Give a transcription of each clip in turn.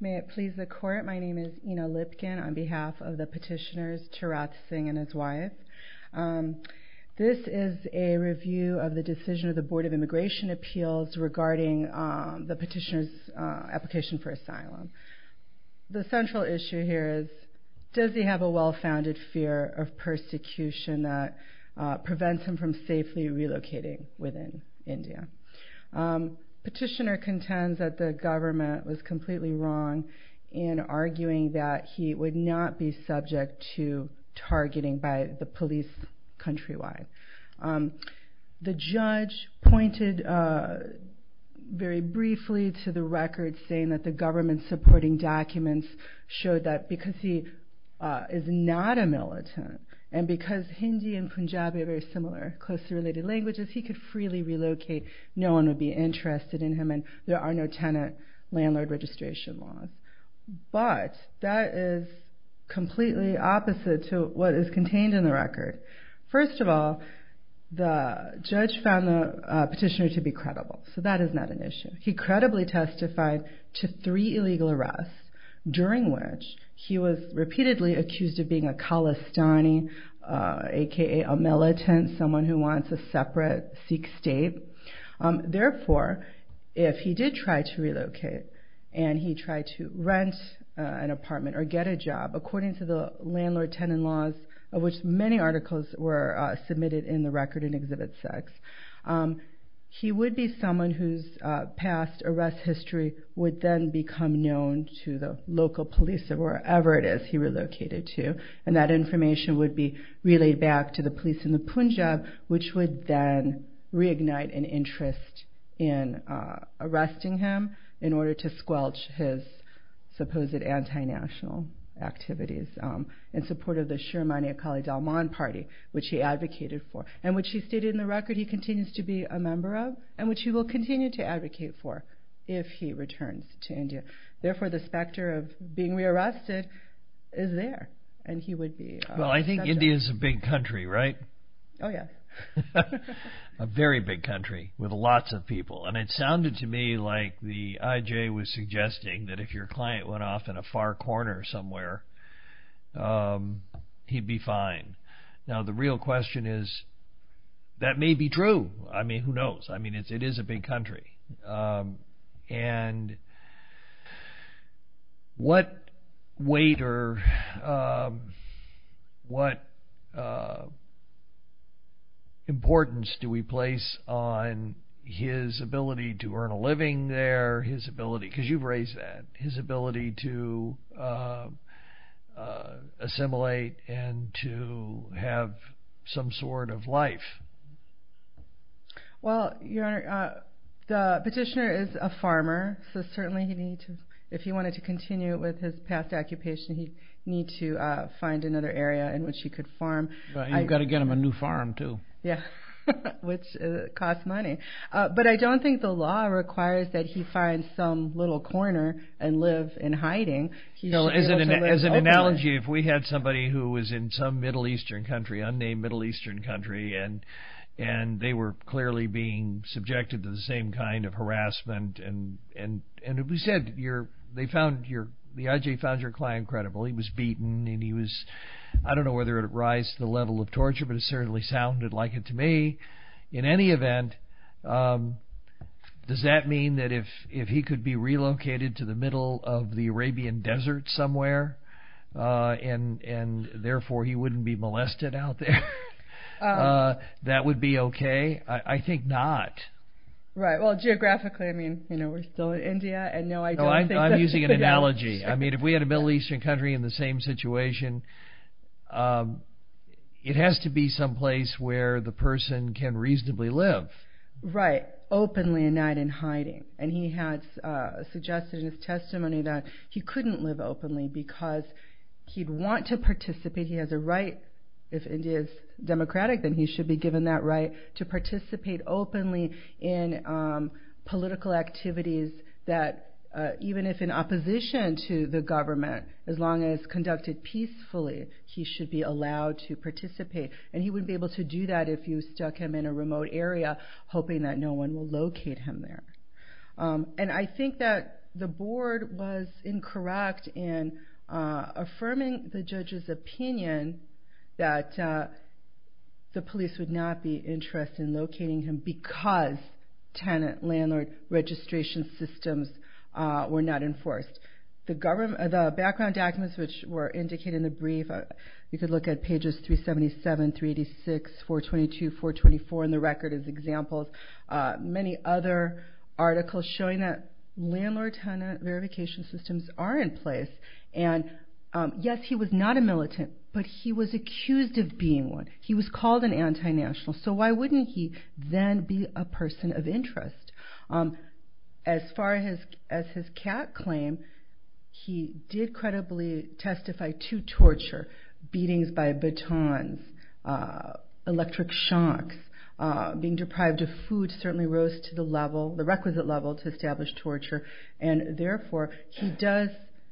May it please the court, my name is Ena Lipkin on behalf of the petitioners Tirath Singh and his wife. This is a review of the decision of the Board of Immigration Appeals regarding the petitioner's application for asylum. The central issue here is does he have a well-founded fear of persecution that prevents him from safely relocating within India. The petitioner contends that the government was completely wrong in arguing that he would not be subject to targeting by the police countrywide. The judge pointed very briefly to the record saying that the government's supporting documents showed that because he is not a militant and because Hindi and Punjabi are very similar closely related languages, he could freely relocate. No one would be interested in him and there are no tenant landlord registration laws. But that is completely opposite to what is contained in the record. First of all, the judge found the petitioner to be credible, so that is not an issue. He credibly testified to three illegal arrests, during which he was repeatedly accused of being a Khalistani, aka a militant, someone who wants a separate Sikh state. Therefore, if he did try to relocate and he tried to rent an apartment or get a job, according to the landlord-tenant laws of which many articles were submitted in the record in Exhibit 6, he would be someone whose past arrest history would then become known to the local police of wherever it is he relocated to. And that information would be relayed back to the police in the Punjab, which would then reignite an interest in arresting him in order to squelch his supposed anti-national activities in support of the Sharmani Akali Dalman party, which he advocated for, and which he stated in the record he continues to be a member of, and which he will continue to advocate for if he returns to India. Therefore, the specter of being rearrested is there, and he would be accepted. Well, I think India is a big country, right? Oh, yeah. A very big country with lots of people, and it sounded to me like the IJ was suggesting that if your client went off in a far corner somewhere, he'd be fine. Now, the real question is that may be true. I mean, who knows? I mean, it is a big country. And what weight or what importance do we place on his ability to earn a living there, his ability – because Well, Your Honor, the petitioner is a farmer, so certainly he needs to – if he wanted to continue with his past occupation, he'd need to find another area in which he could farm. You've got to get him a new farm, too. Yeah, which costs money. But I don't think the law requires that he find some little corner and live in hiding. He should be able to live openly. As an analogy, if we had somebody who was in some Middle Eastern country, unnamed Middle Eastern country, and they were clearly being subjected to the same kind of harassment, and if we said they found – the IJ found your client credible. He was beaten, and he was – I don't know whether it would rise to the level of torture, but it certainly sounded like it to me. In any event, does that mean that if he could be relocated to the middle of the Arabian desert somewhere, and therefore he wouldn't be molested out there, that would be okay? I think not. Right. Well, geographically, I mean, you know, we're still in India, and no, I don't think that – No, I'm using an analogy. I mean, if we had a Middle Eastern country in the same situation, it has to be someplace where the person can reasonably live. Right. Openly, and not in hiding. And he has suggested in his testimony that he couldn't live openly because he'd want to participate. He has a right, if India is democratic, then he should be given that right to participate openly in political activities that, even if in opposition to the government, as long as conducted peacefully, he should be allowed to participate. And he wouldn't be able to do that if you stuck him in a remote area, hoping that no one will locate him there. And I think that the board was incorrect in affirming the judge's opinion that the police would not be interested in locating him because tenant-landlord registration systems were not enforced. The background documents which were indicated in the brief, you could look at pages 377, 386, 422, 424, and the record is examples, many other articles showing that landlord-tenant verification systems are in place. And yes, he was not a militant, but he was accused of being one. He was called an anti-national, so why wouldn't he then be a person of interest? As far as his cat claim, he did credibly testify to torture, beatings by batons, electric shocks, being deprived of food certainly rose to the level, the requisite level, to establish torture. And therefore, he does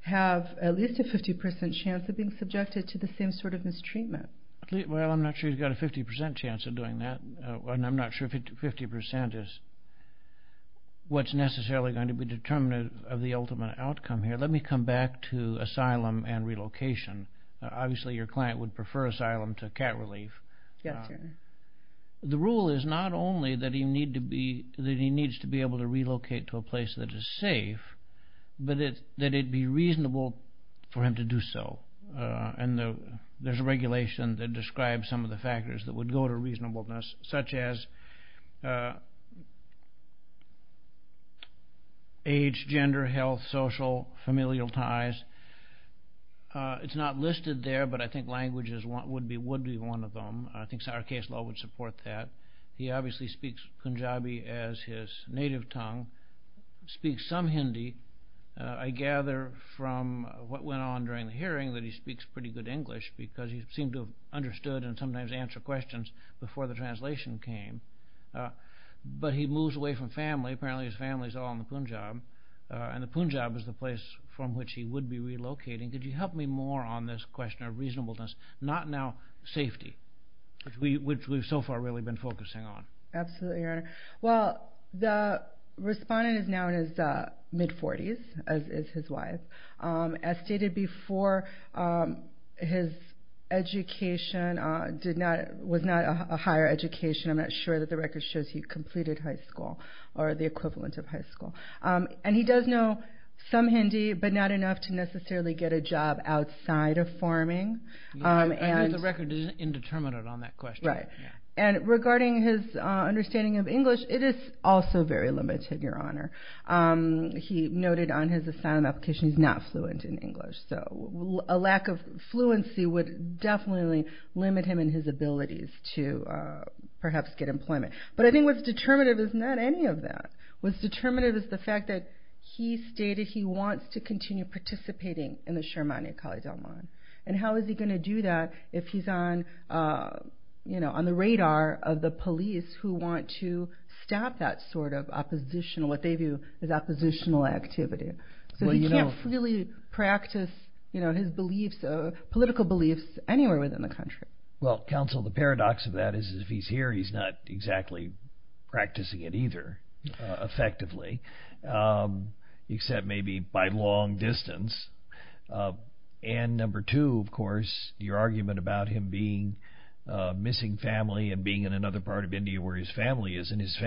have at least a 50% chance of being subjected to the same sort of mistreatment. Well, I'm not sure he's got a 50% chance of doing that, and I'm not sure 50% is what's necessarily going to be determinative of the ultimate outcome here. Let me come back to asylum and relocation. Obviously, your client would prefer asylum to cat relief. Yes, sir. The rule is not only that he needs to be able to relocate to a place that is safe, but that it be reasonable for him to do so. And there's a regulation that describes some of the factors that would go to reasonableness, such as age, gender, health, social, familial ties. It's not listed there, but I think language would be one of them. I think our case law would support that. He obviously speaks Punjabi as his native tongue, speaks some Hindi. I gather from what went on during the hearing that he speaks pretty good English because he seemed to have understood and sometimes answered questions before the translation came. But he moves away from family. Apparently, his family is all in the Punjab, and the Punjab is the place from which he would be relocating. Could you help me more on this question of reasonableness, not now safety, which we've so far really been focusing on? Absolutely, Your Honor. Well, the respondent is now in his mid-40s, as is his wife. As stated before, his education was not a higher education. I'm not sure that the record shows he completed high school or the equivalent of high school. He does know some Hindi, but not enough to necessarily get a job outside of farming. I know the record is indeterminate on that question. Right. Regarding his understanding of English, it is also very limited, Your Honor. He noted on his assignment application he's not fluent in English. A lack of fluency would definitely limit him in his abilities to perhaps get employment. But I think what's determinative is not any of that. What's determinative is the fact that he stated he wants to continue participating in the Sharmani Akali Dalman. How is he going to do that if he's on the radar of the police who want to stop that sort of oppositional, what they view as oppositional activity? So he can't really practice his political beliefs anywhere within the country. Well, counsel, the paradox of that is if he's here, he's not exactly practicing it either effectively, except maybe by long distance. And number two, of course, your argument about him being missing family and being in another part of India where his family is, and his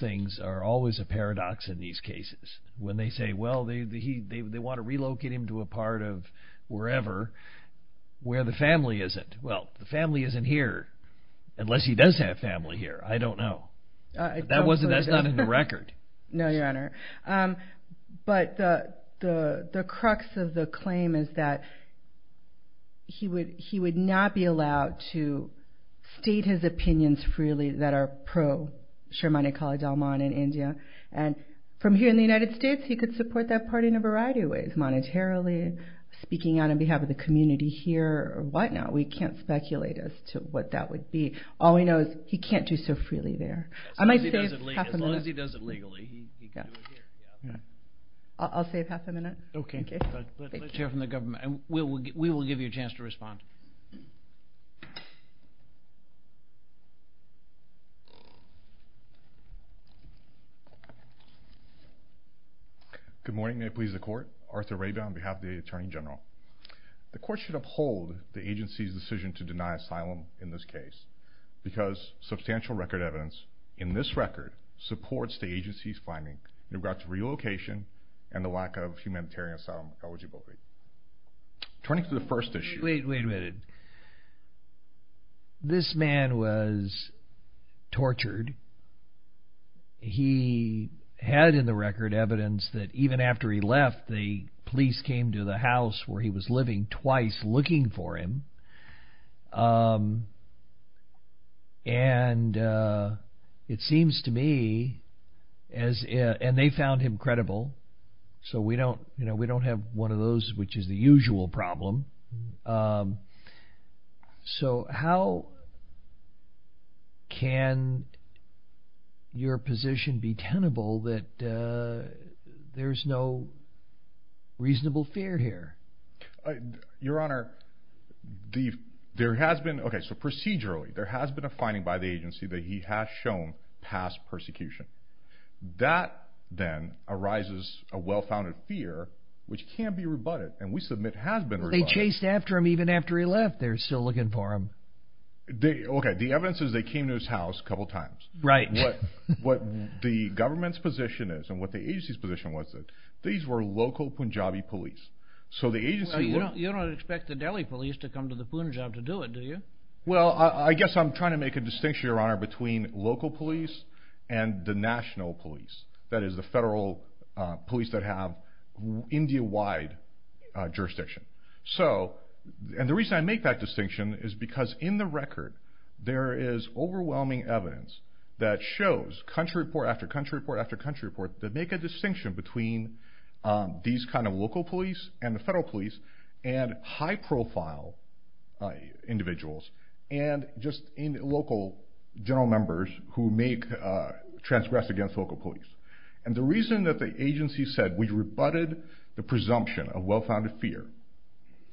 things are always a paradox in these cases. When they say, well, they want to relocate him to a part of wherever where the family isn't. Well, the family isn't here unless he does have family here. I don't know. That's not in the record. No, Your Honor. But the crux of the claim is that he would not be allowed to state his name, Akali Dalman, in India. And from here in the United States, he could support that party in a variety of ways, monetarily, speaking on behalf of the community here, or whatnot. We can't speculate as to what that would be. All we know is he can't do so freely there. I might save half a minute. As long as he does it legally, he can do it here. I'll save half a minute. Okay. Thank you. Let's hear from the government, and we will give you a chance to respond. Good morning. May it please the Court. Arthur Rabin on behalf of the Attorney General. The Court should uphold the agency's decision to deny asylum in this case, because substantial record evidence in this record supports the agency's finding in regards to relocation and the lack of humanitarian asylum eligibility. Turning to the first issue... He had in the record evidence that even after he left, the police came to the house where he was living, twice looking for him. And it seems to me, and they found him credible, so we don't have one of those which is the usual problem. So, how can your position be tenable that there's no reasonable fear here? Your Honor, there has been... Okay, so procedurally, there has been a finding by the agency that he has shown past persecution. That, then, arises a well-founded fear which can be rebutted, and we submit has been rebutted. Well, they chased after him even after he left. They're still looking for him. Okay, the evidence is they came to his house a couple of times. What the government's position is, and what the agency's position was, is that these were local Punjabi police. So the agency... You don't expect the Delhi police to come to the Punjab to do it, do you? Well, I guess I'm trying to make a distinction, Your Honor, between local police and the national police, that is, the federal police that have India-wide jurisdiction. And the reason I make that distinction is because in the record, there is overwhelming evidence that shows country report after country report after country report that make a distinction between these kind of local police and the federal police, and high-profile individuals, and just local general members who may transgress against local police. And the reason that the agency said we rebutted the presumption of well-founded fear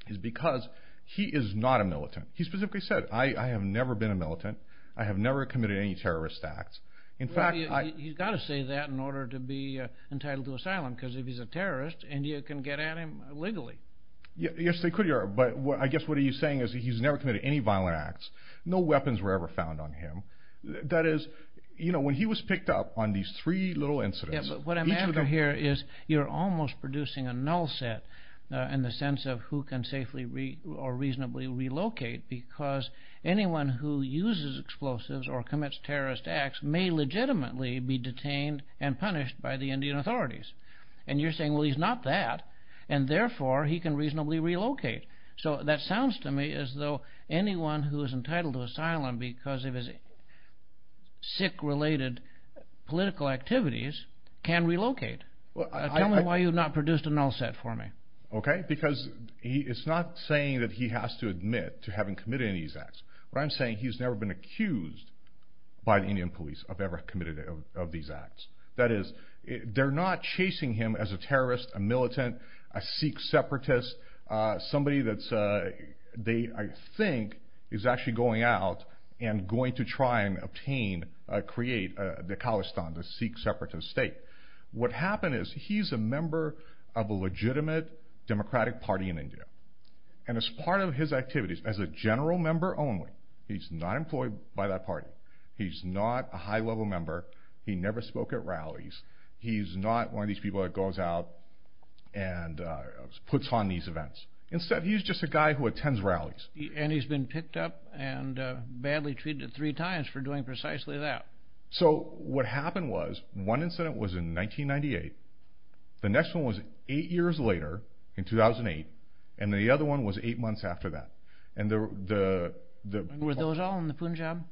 is because he is not a militant. He specifically said, I have never been a militant. I have never committed any terrorist acts. In fact, I... Well, he's got to say that in order to be entitled to asylum, because if he's a terrorist, India can get at him legally. Yes, they could, Your Honor, but I guess what he's saying is he's never committed any violent acts. No weapons were ever found on him. That is, you know, when he was picked up on these three little incidents, each of them... Yes, but what I'm after here is you're almost producing a null set in the sense of who can safely or reasonably relocate, because anyone who uses explosives or commits terrorist acts may legitimately be detained and punished by the Indian authorities. And you're saying, well, he's not that, and therefore, he can reasonably relocate. So that sounds to me as though anyone who is entitled to asylum because of his sick-related political activities can relocate. Tell me why you've not produced a null set for me. Okay, because it's not saying that he has to admit to having committed any of these acts. What I'm saying, he's never been accused by the Indian police of ever committing any of these acts. That is, they're not chasing him as a terrorist, a militant, a Sikh separatist, somebody that they think is actually going out and going to try and obtain, create the Khalistan, the Sikh separatist state. What happened is he's a member of a legitimate democratic party in India. And as part of his activities, as a general member only, he's not employed by that party. He's not a high-level member. He never spoke at rallies. He's not one of these people that goes out and puts on these events. Instead, he's just a guy who attends rallies. And he's been picked up and badly treated three times for doing precisely that. So what happened was, one incident was in 1998, the next one was eight years later, in 2008, and the other one was eight months after that. Were those all in the Punjab?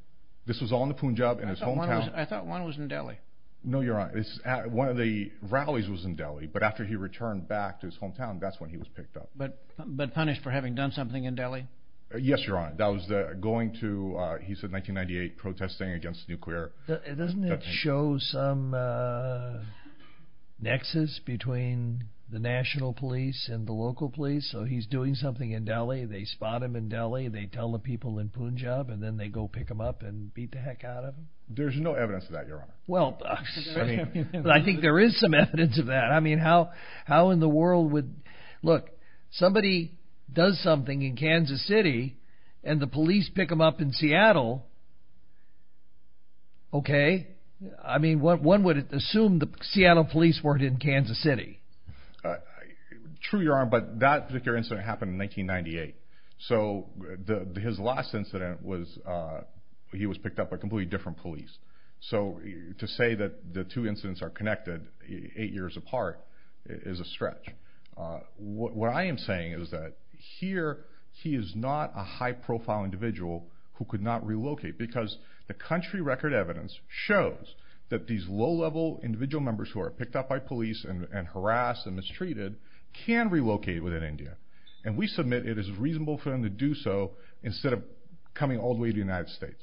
This was all in the Punjab, in his hometown. I thought one was in Delhi. No, Your Honor. One of the rallies was in Delhi, but after he returned back to his hometown, that's when he was picked up. But punished for having done something in Delhi? Yes, Your Honor. That was going to, he said, 1998, protesting against nuclear. Doesn't it show some nexus between the national police and the local police? So he's doing something in Delhi, they spot him in Delhi, they tell the people in Punjab, and then they go pick him up and beat the heck out of him? There's no evidence of that, Your Honor. Well, I think there is some evidence of that. I mean, how in the world would, look, somebody does something in Kansas City, and the police pick him up in Seattle, okay? I mean, one would assume the Seattle police were in Kansas City. True, Your Honor, but that particular incident happened in 1998. So his last incident was, he was picked up by a completely different police. So to say that the two incidents are connected eight years apart is a stretch. What I am saying is that here, he is not a high-profile individual who could not relocate, because the country record evidence shows that these low-level individual members who are picked up by police and harassed and mistreated can relocate within India. And we submit it is reasonable for them to do so instead of coming all the way to the United States.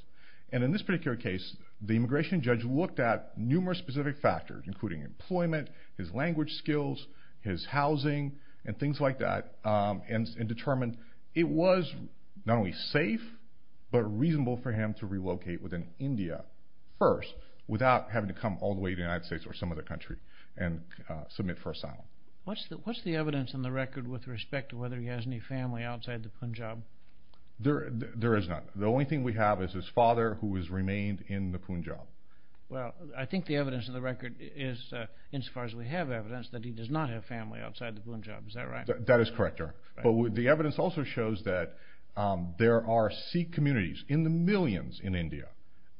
And in this particular case, the immigration judge looked at numerous specific factors, including employment, his language skills, his housing, and things like that, and determined it was not only safe, but reasonable for him to relocate within India first, without having to come all the way to the United States or some other country and submit for asylum. What's the evidence in the record with respect to whether he has any family outside the Punjab? There is none. The only thing we have is his father who has remained in the Punjab. Well, I think the evidence in the record is, insofar as we have evidence, that he does not have family outside the Punjab. Is that right? That is correct, Your Honor. But the evidence also shows that there are Sikh communities in the millions in India,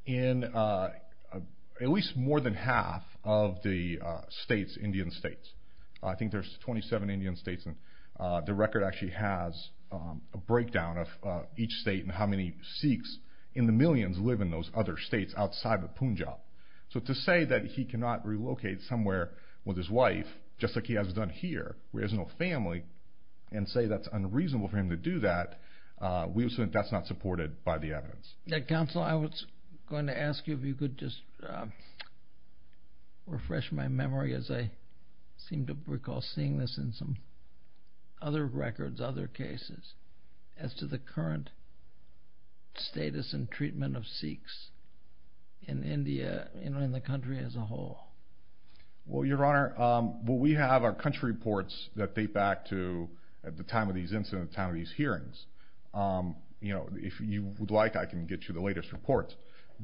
in at least more than half of the states, Indian states. I think the record actually has a breakdown of each state and how many Sikhs in the millions live in those other states outside the Punjab. So to say that he cannot relocate somewhere with his wife, just like he has done here, where he has no family, and say that's unreasonable for him to do that, we would say that's not supported by the evidence. Counsel, I was going to ask you if you could just refresh my memory, as I seem to recall seeing this in some other records, other cases, as to the current status and treatment of Sikhs in India and in the country as a whole. Well, Your Honor, we have our country reports that date back to the time of these incidents, the time of these hearings. If you would like, I can get you the latest reports.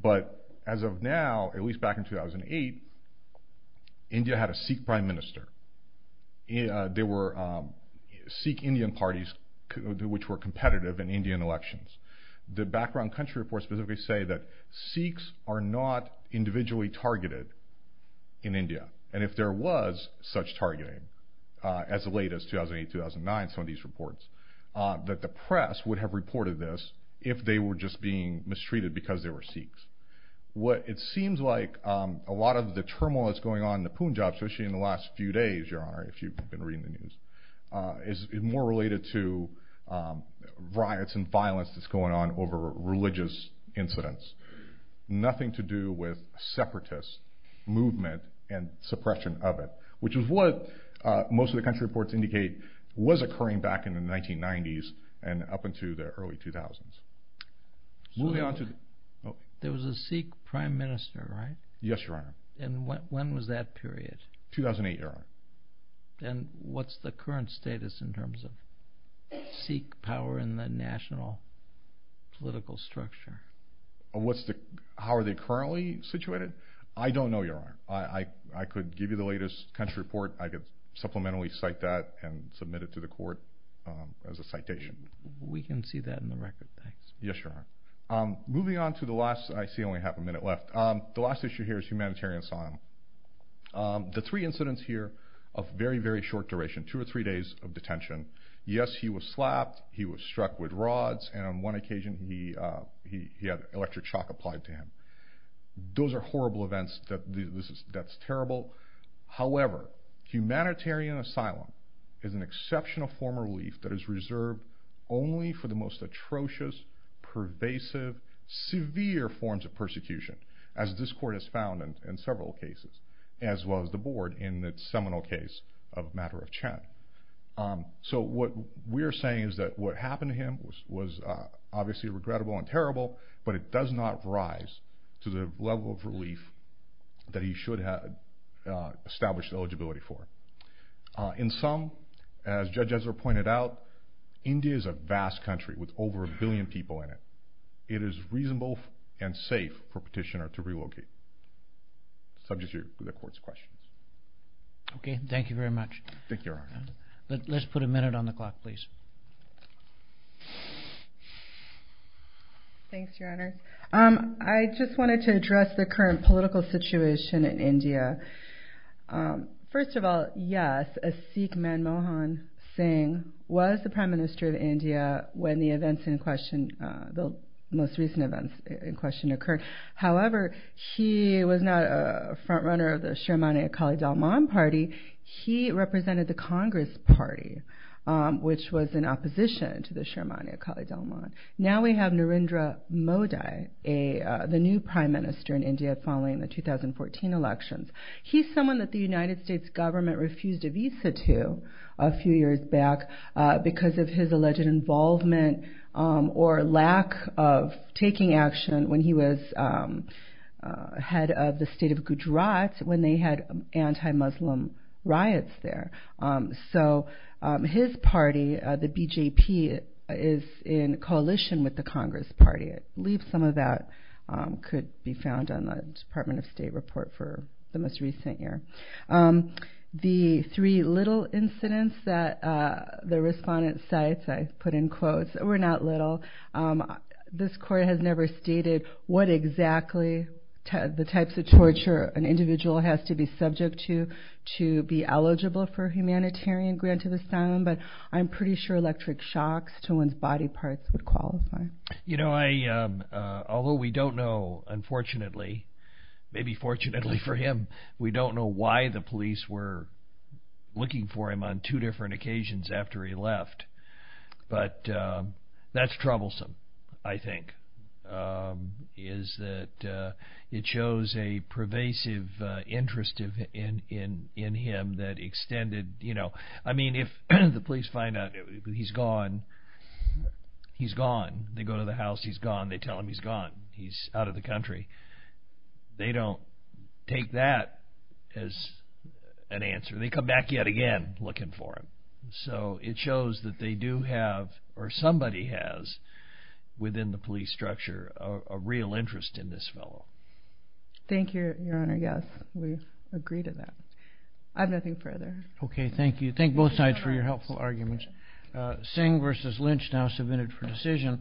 But as of now, at least back in 2008, India had a Sikh Prime Minister. There were Sikh Indian parties which were competitive in Indian elections. The background country reports specifically say that Sikhs are not individually targeted in India. And if there was such targeting as late as 2008-2009, some of these reports, that the press would have reported this if they were just being mistreated because they were Sikhs. It seems like a lot of the turmoil that's going on in the Punjab, especially in the last few days, Your Honor, if you've been reading the news, is more related to riots and violence that's going on over religious incidents. Nothing to do with separatist movement and suppression of it, which is what most of the country reports indicate was occurring back in the 1990s and up until the early 2000s. There was a Sikh Prime Minister, right? Yes, Your Honor. When was that period? 2008, Your Honor. What's the current status in terms of Sikh power in the national political structure? How are they currently situated? I don't know, Your Honor. I could give you the latest country report. I could supplementally cite that and submit it to the court as a citation. We can see that in the record, thanks. Yes, Your Honor. Moving on to the last, I see only half a minute left. The last issue here is humanitarian asylum. The three incidents here of very, very short duration, two or three days of detention. Yes, he was slapped, he was struck with rods, and on one occasion he had electric shock applied to him. Those are horrible events. That's terrible. However, humanitarian asylum is an exceptional form of relief that is reserved only for the most prominent in several cases, as well as the board in the seminal case of Matter of Chen. What we're saying is that what happened to him was obviously regrettable and terrible, but it does not rise to the level of relief that he should have established eligibility for. In sum, as Judge Ezra pointed out, India is a vast country with over a billion people in it. It is reasonable and safe for a petitioner to relocate. Subject to the court's questions. Thank you very much. Let's put a minute on the clock, please. Thanks, Your Honor. I just wanted to address the current political situation in India. First of all, yes, Asiq Manmohan Singh was the Prime Minister of India when the events in question, the most recent events in question, occurred. However, he was not a frontrunner of the Sharmani Akali Dalman party. He represented the Congress party, which was in opposition to the Sharmani Akali Dalman. Now we have Narendra Modi, the new Prime Minister in India following the 2014 elections. He's someone that the United States government refused a visa to a few years back because of his alleged involvement or lack of taking action when he was head of the state of Gujarat when they had anti-Muslim riots there. His party, the BJP, is in coalition with the Congress party. I believe some of that could be found on the Department of State report for the most recent year. The three little incidents that the respondents cite, I put in quotes, were not little. This court has never stated what exactly the types of torture an individual has to be subject to to be eligible for humanitarian grant of asylum, but I'm pretty sure electric shocks to one's body parts would qualify. You know, although we don't know, unfortunately, maybe fortunately for him, we don't know why the police were looking for him on two different occasions after he left. But that's troublesome, I think, is that it shows a pervasive interest in him that extended, you know. I mean, if the police find out he's gone, he's gone. They go to the house, he's gone. They tell him he's gone. He's out of the country. They don't take that as an answer. They come back yet again looking for him. So it shows that they do have, or somebody has, within the police structure a real interest in this fellow. Thank you, Your Honor. Yes, we agree to that. I have nothing further. Okay, thank you. Thank both sides for your helpful arguments. Singh v. Lynch now submitted for decision.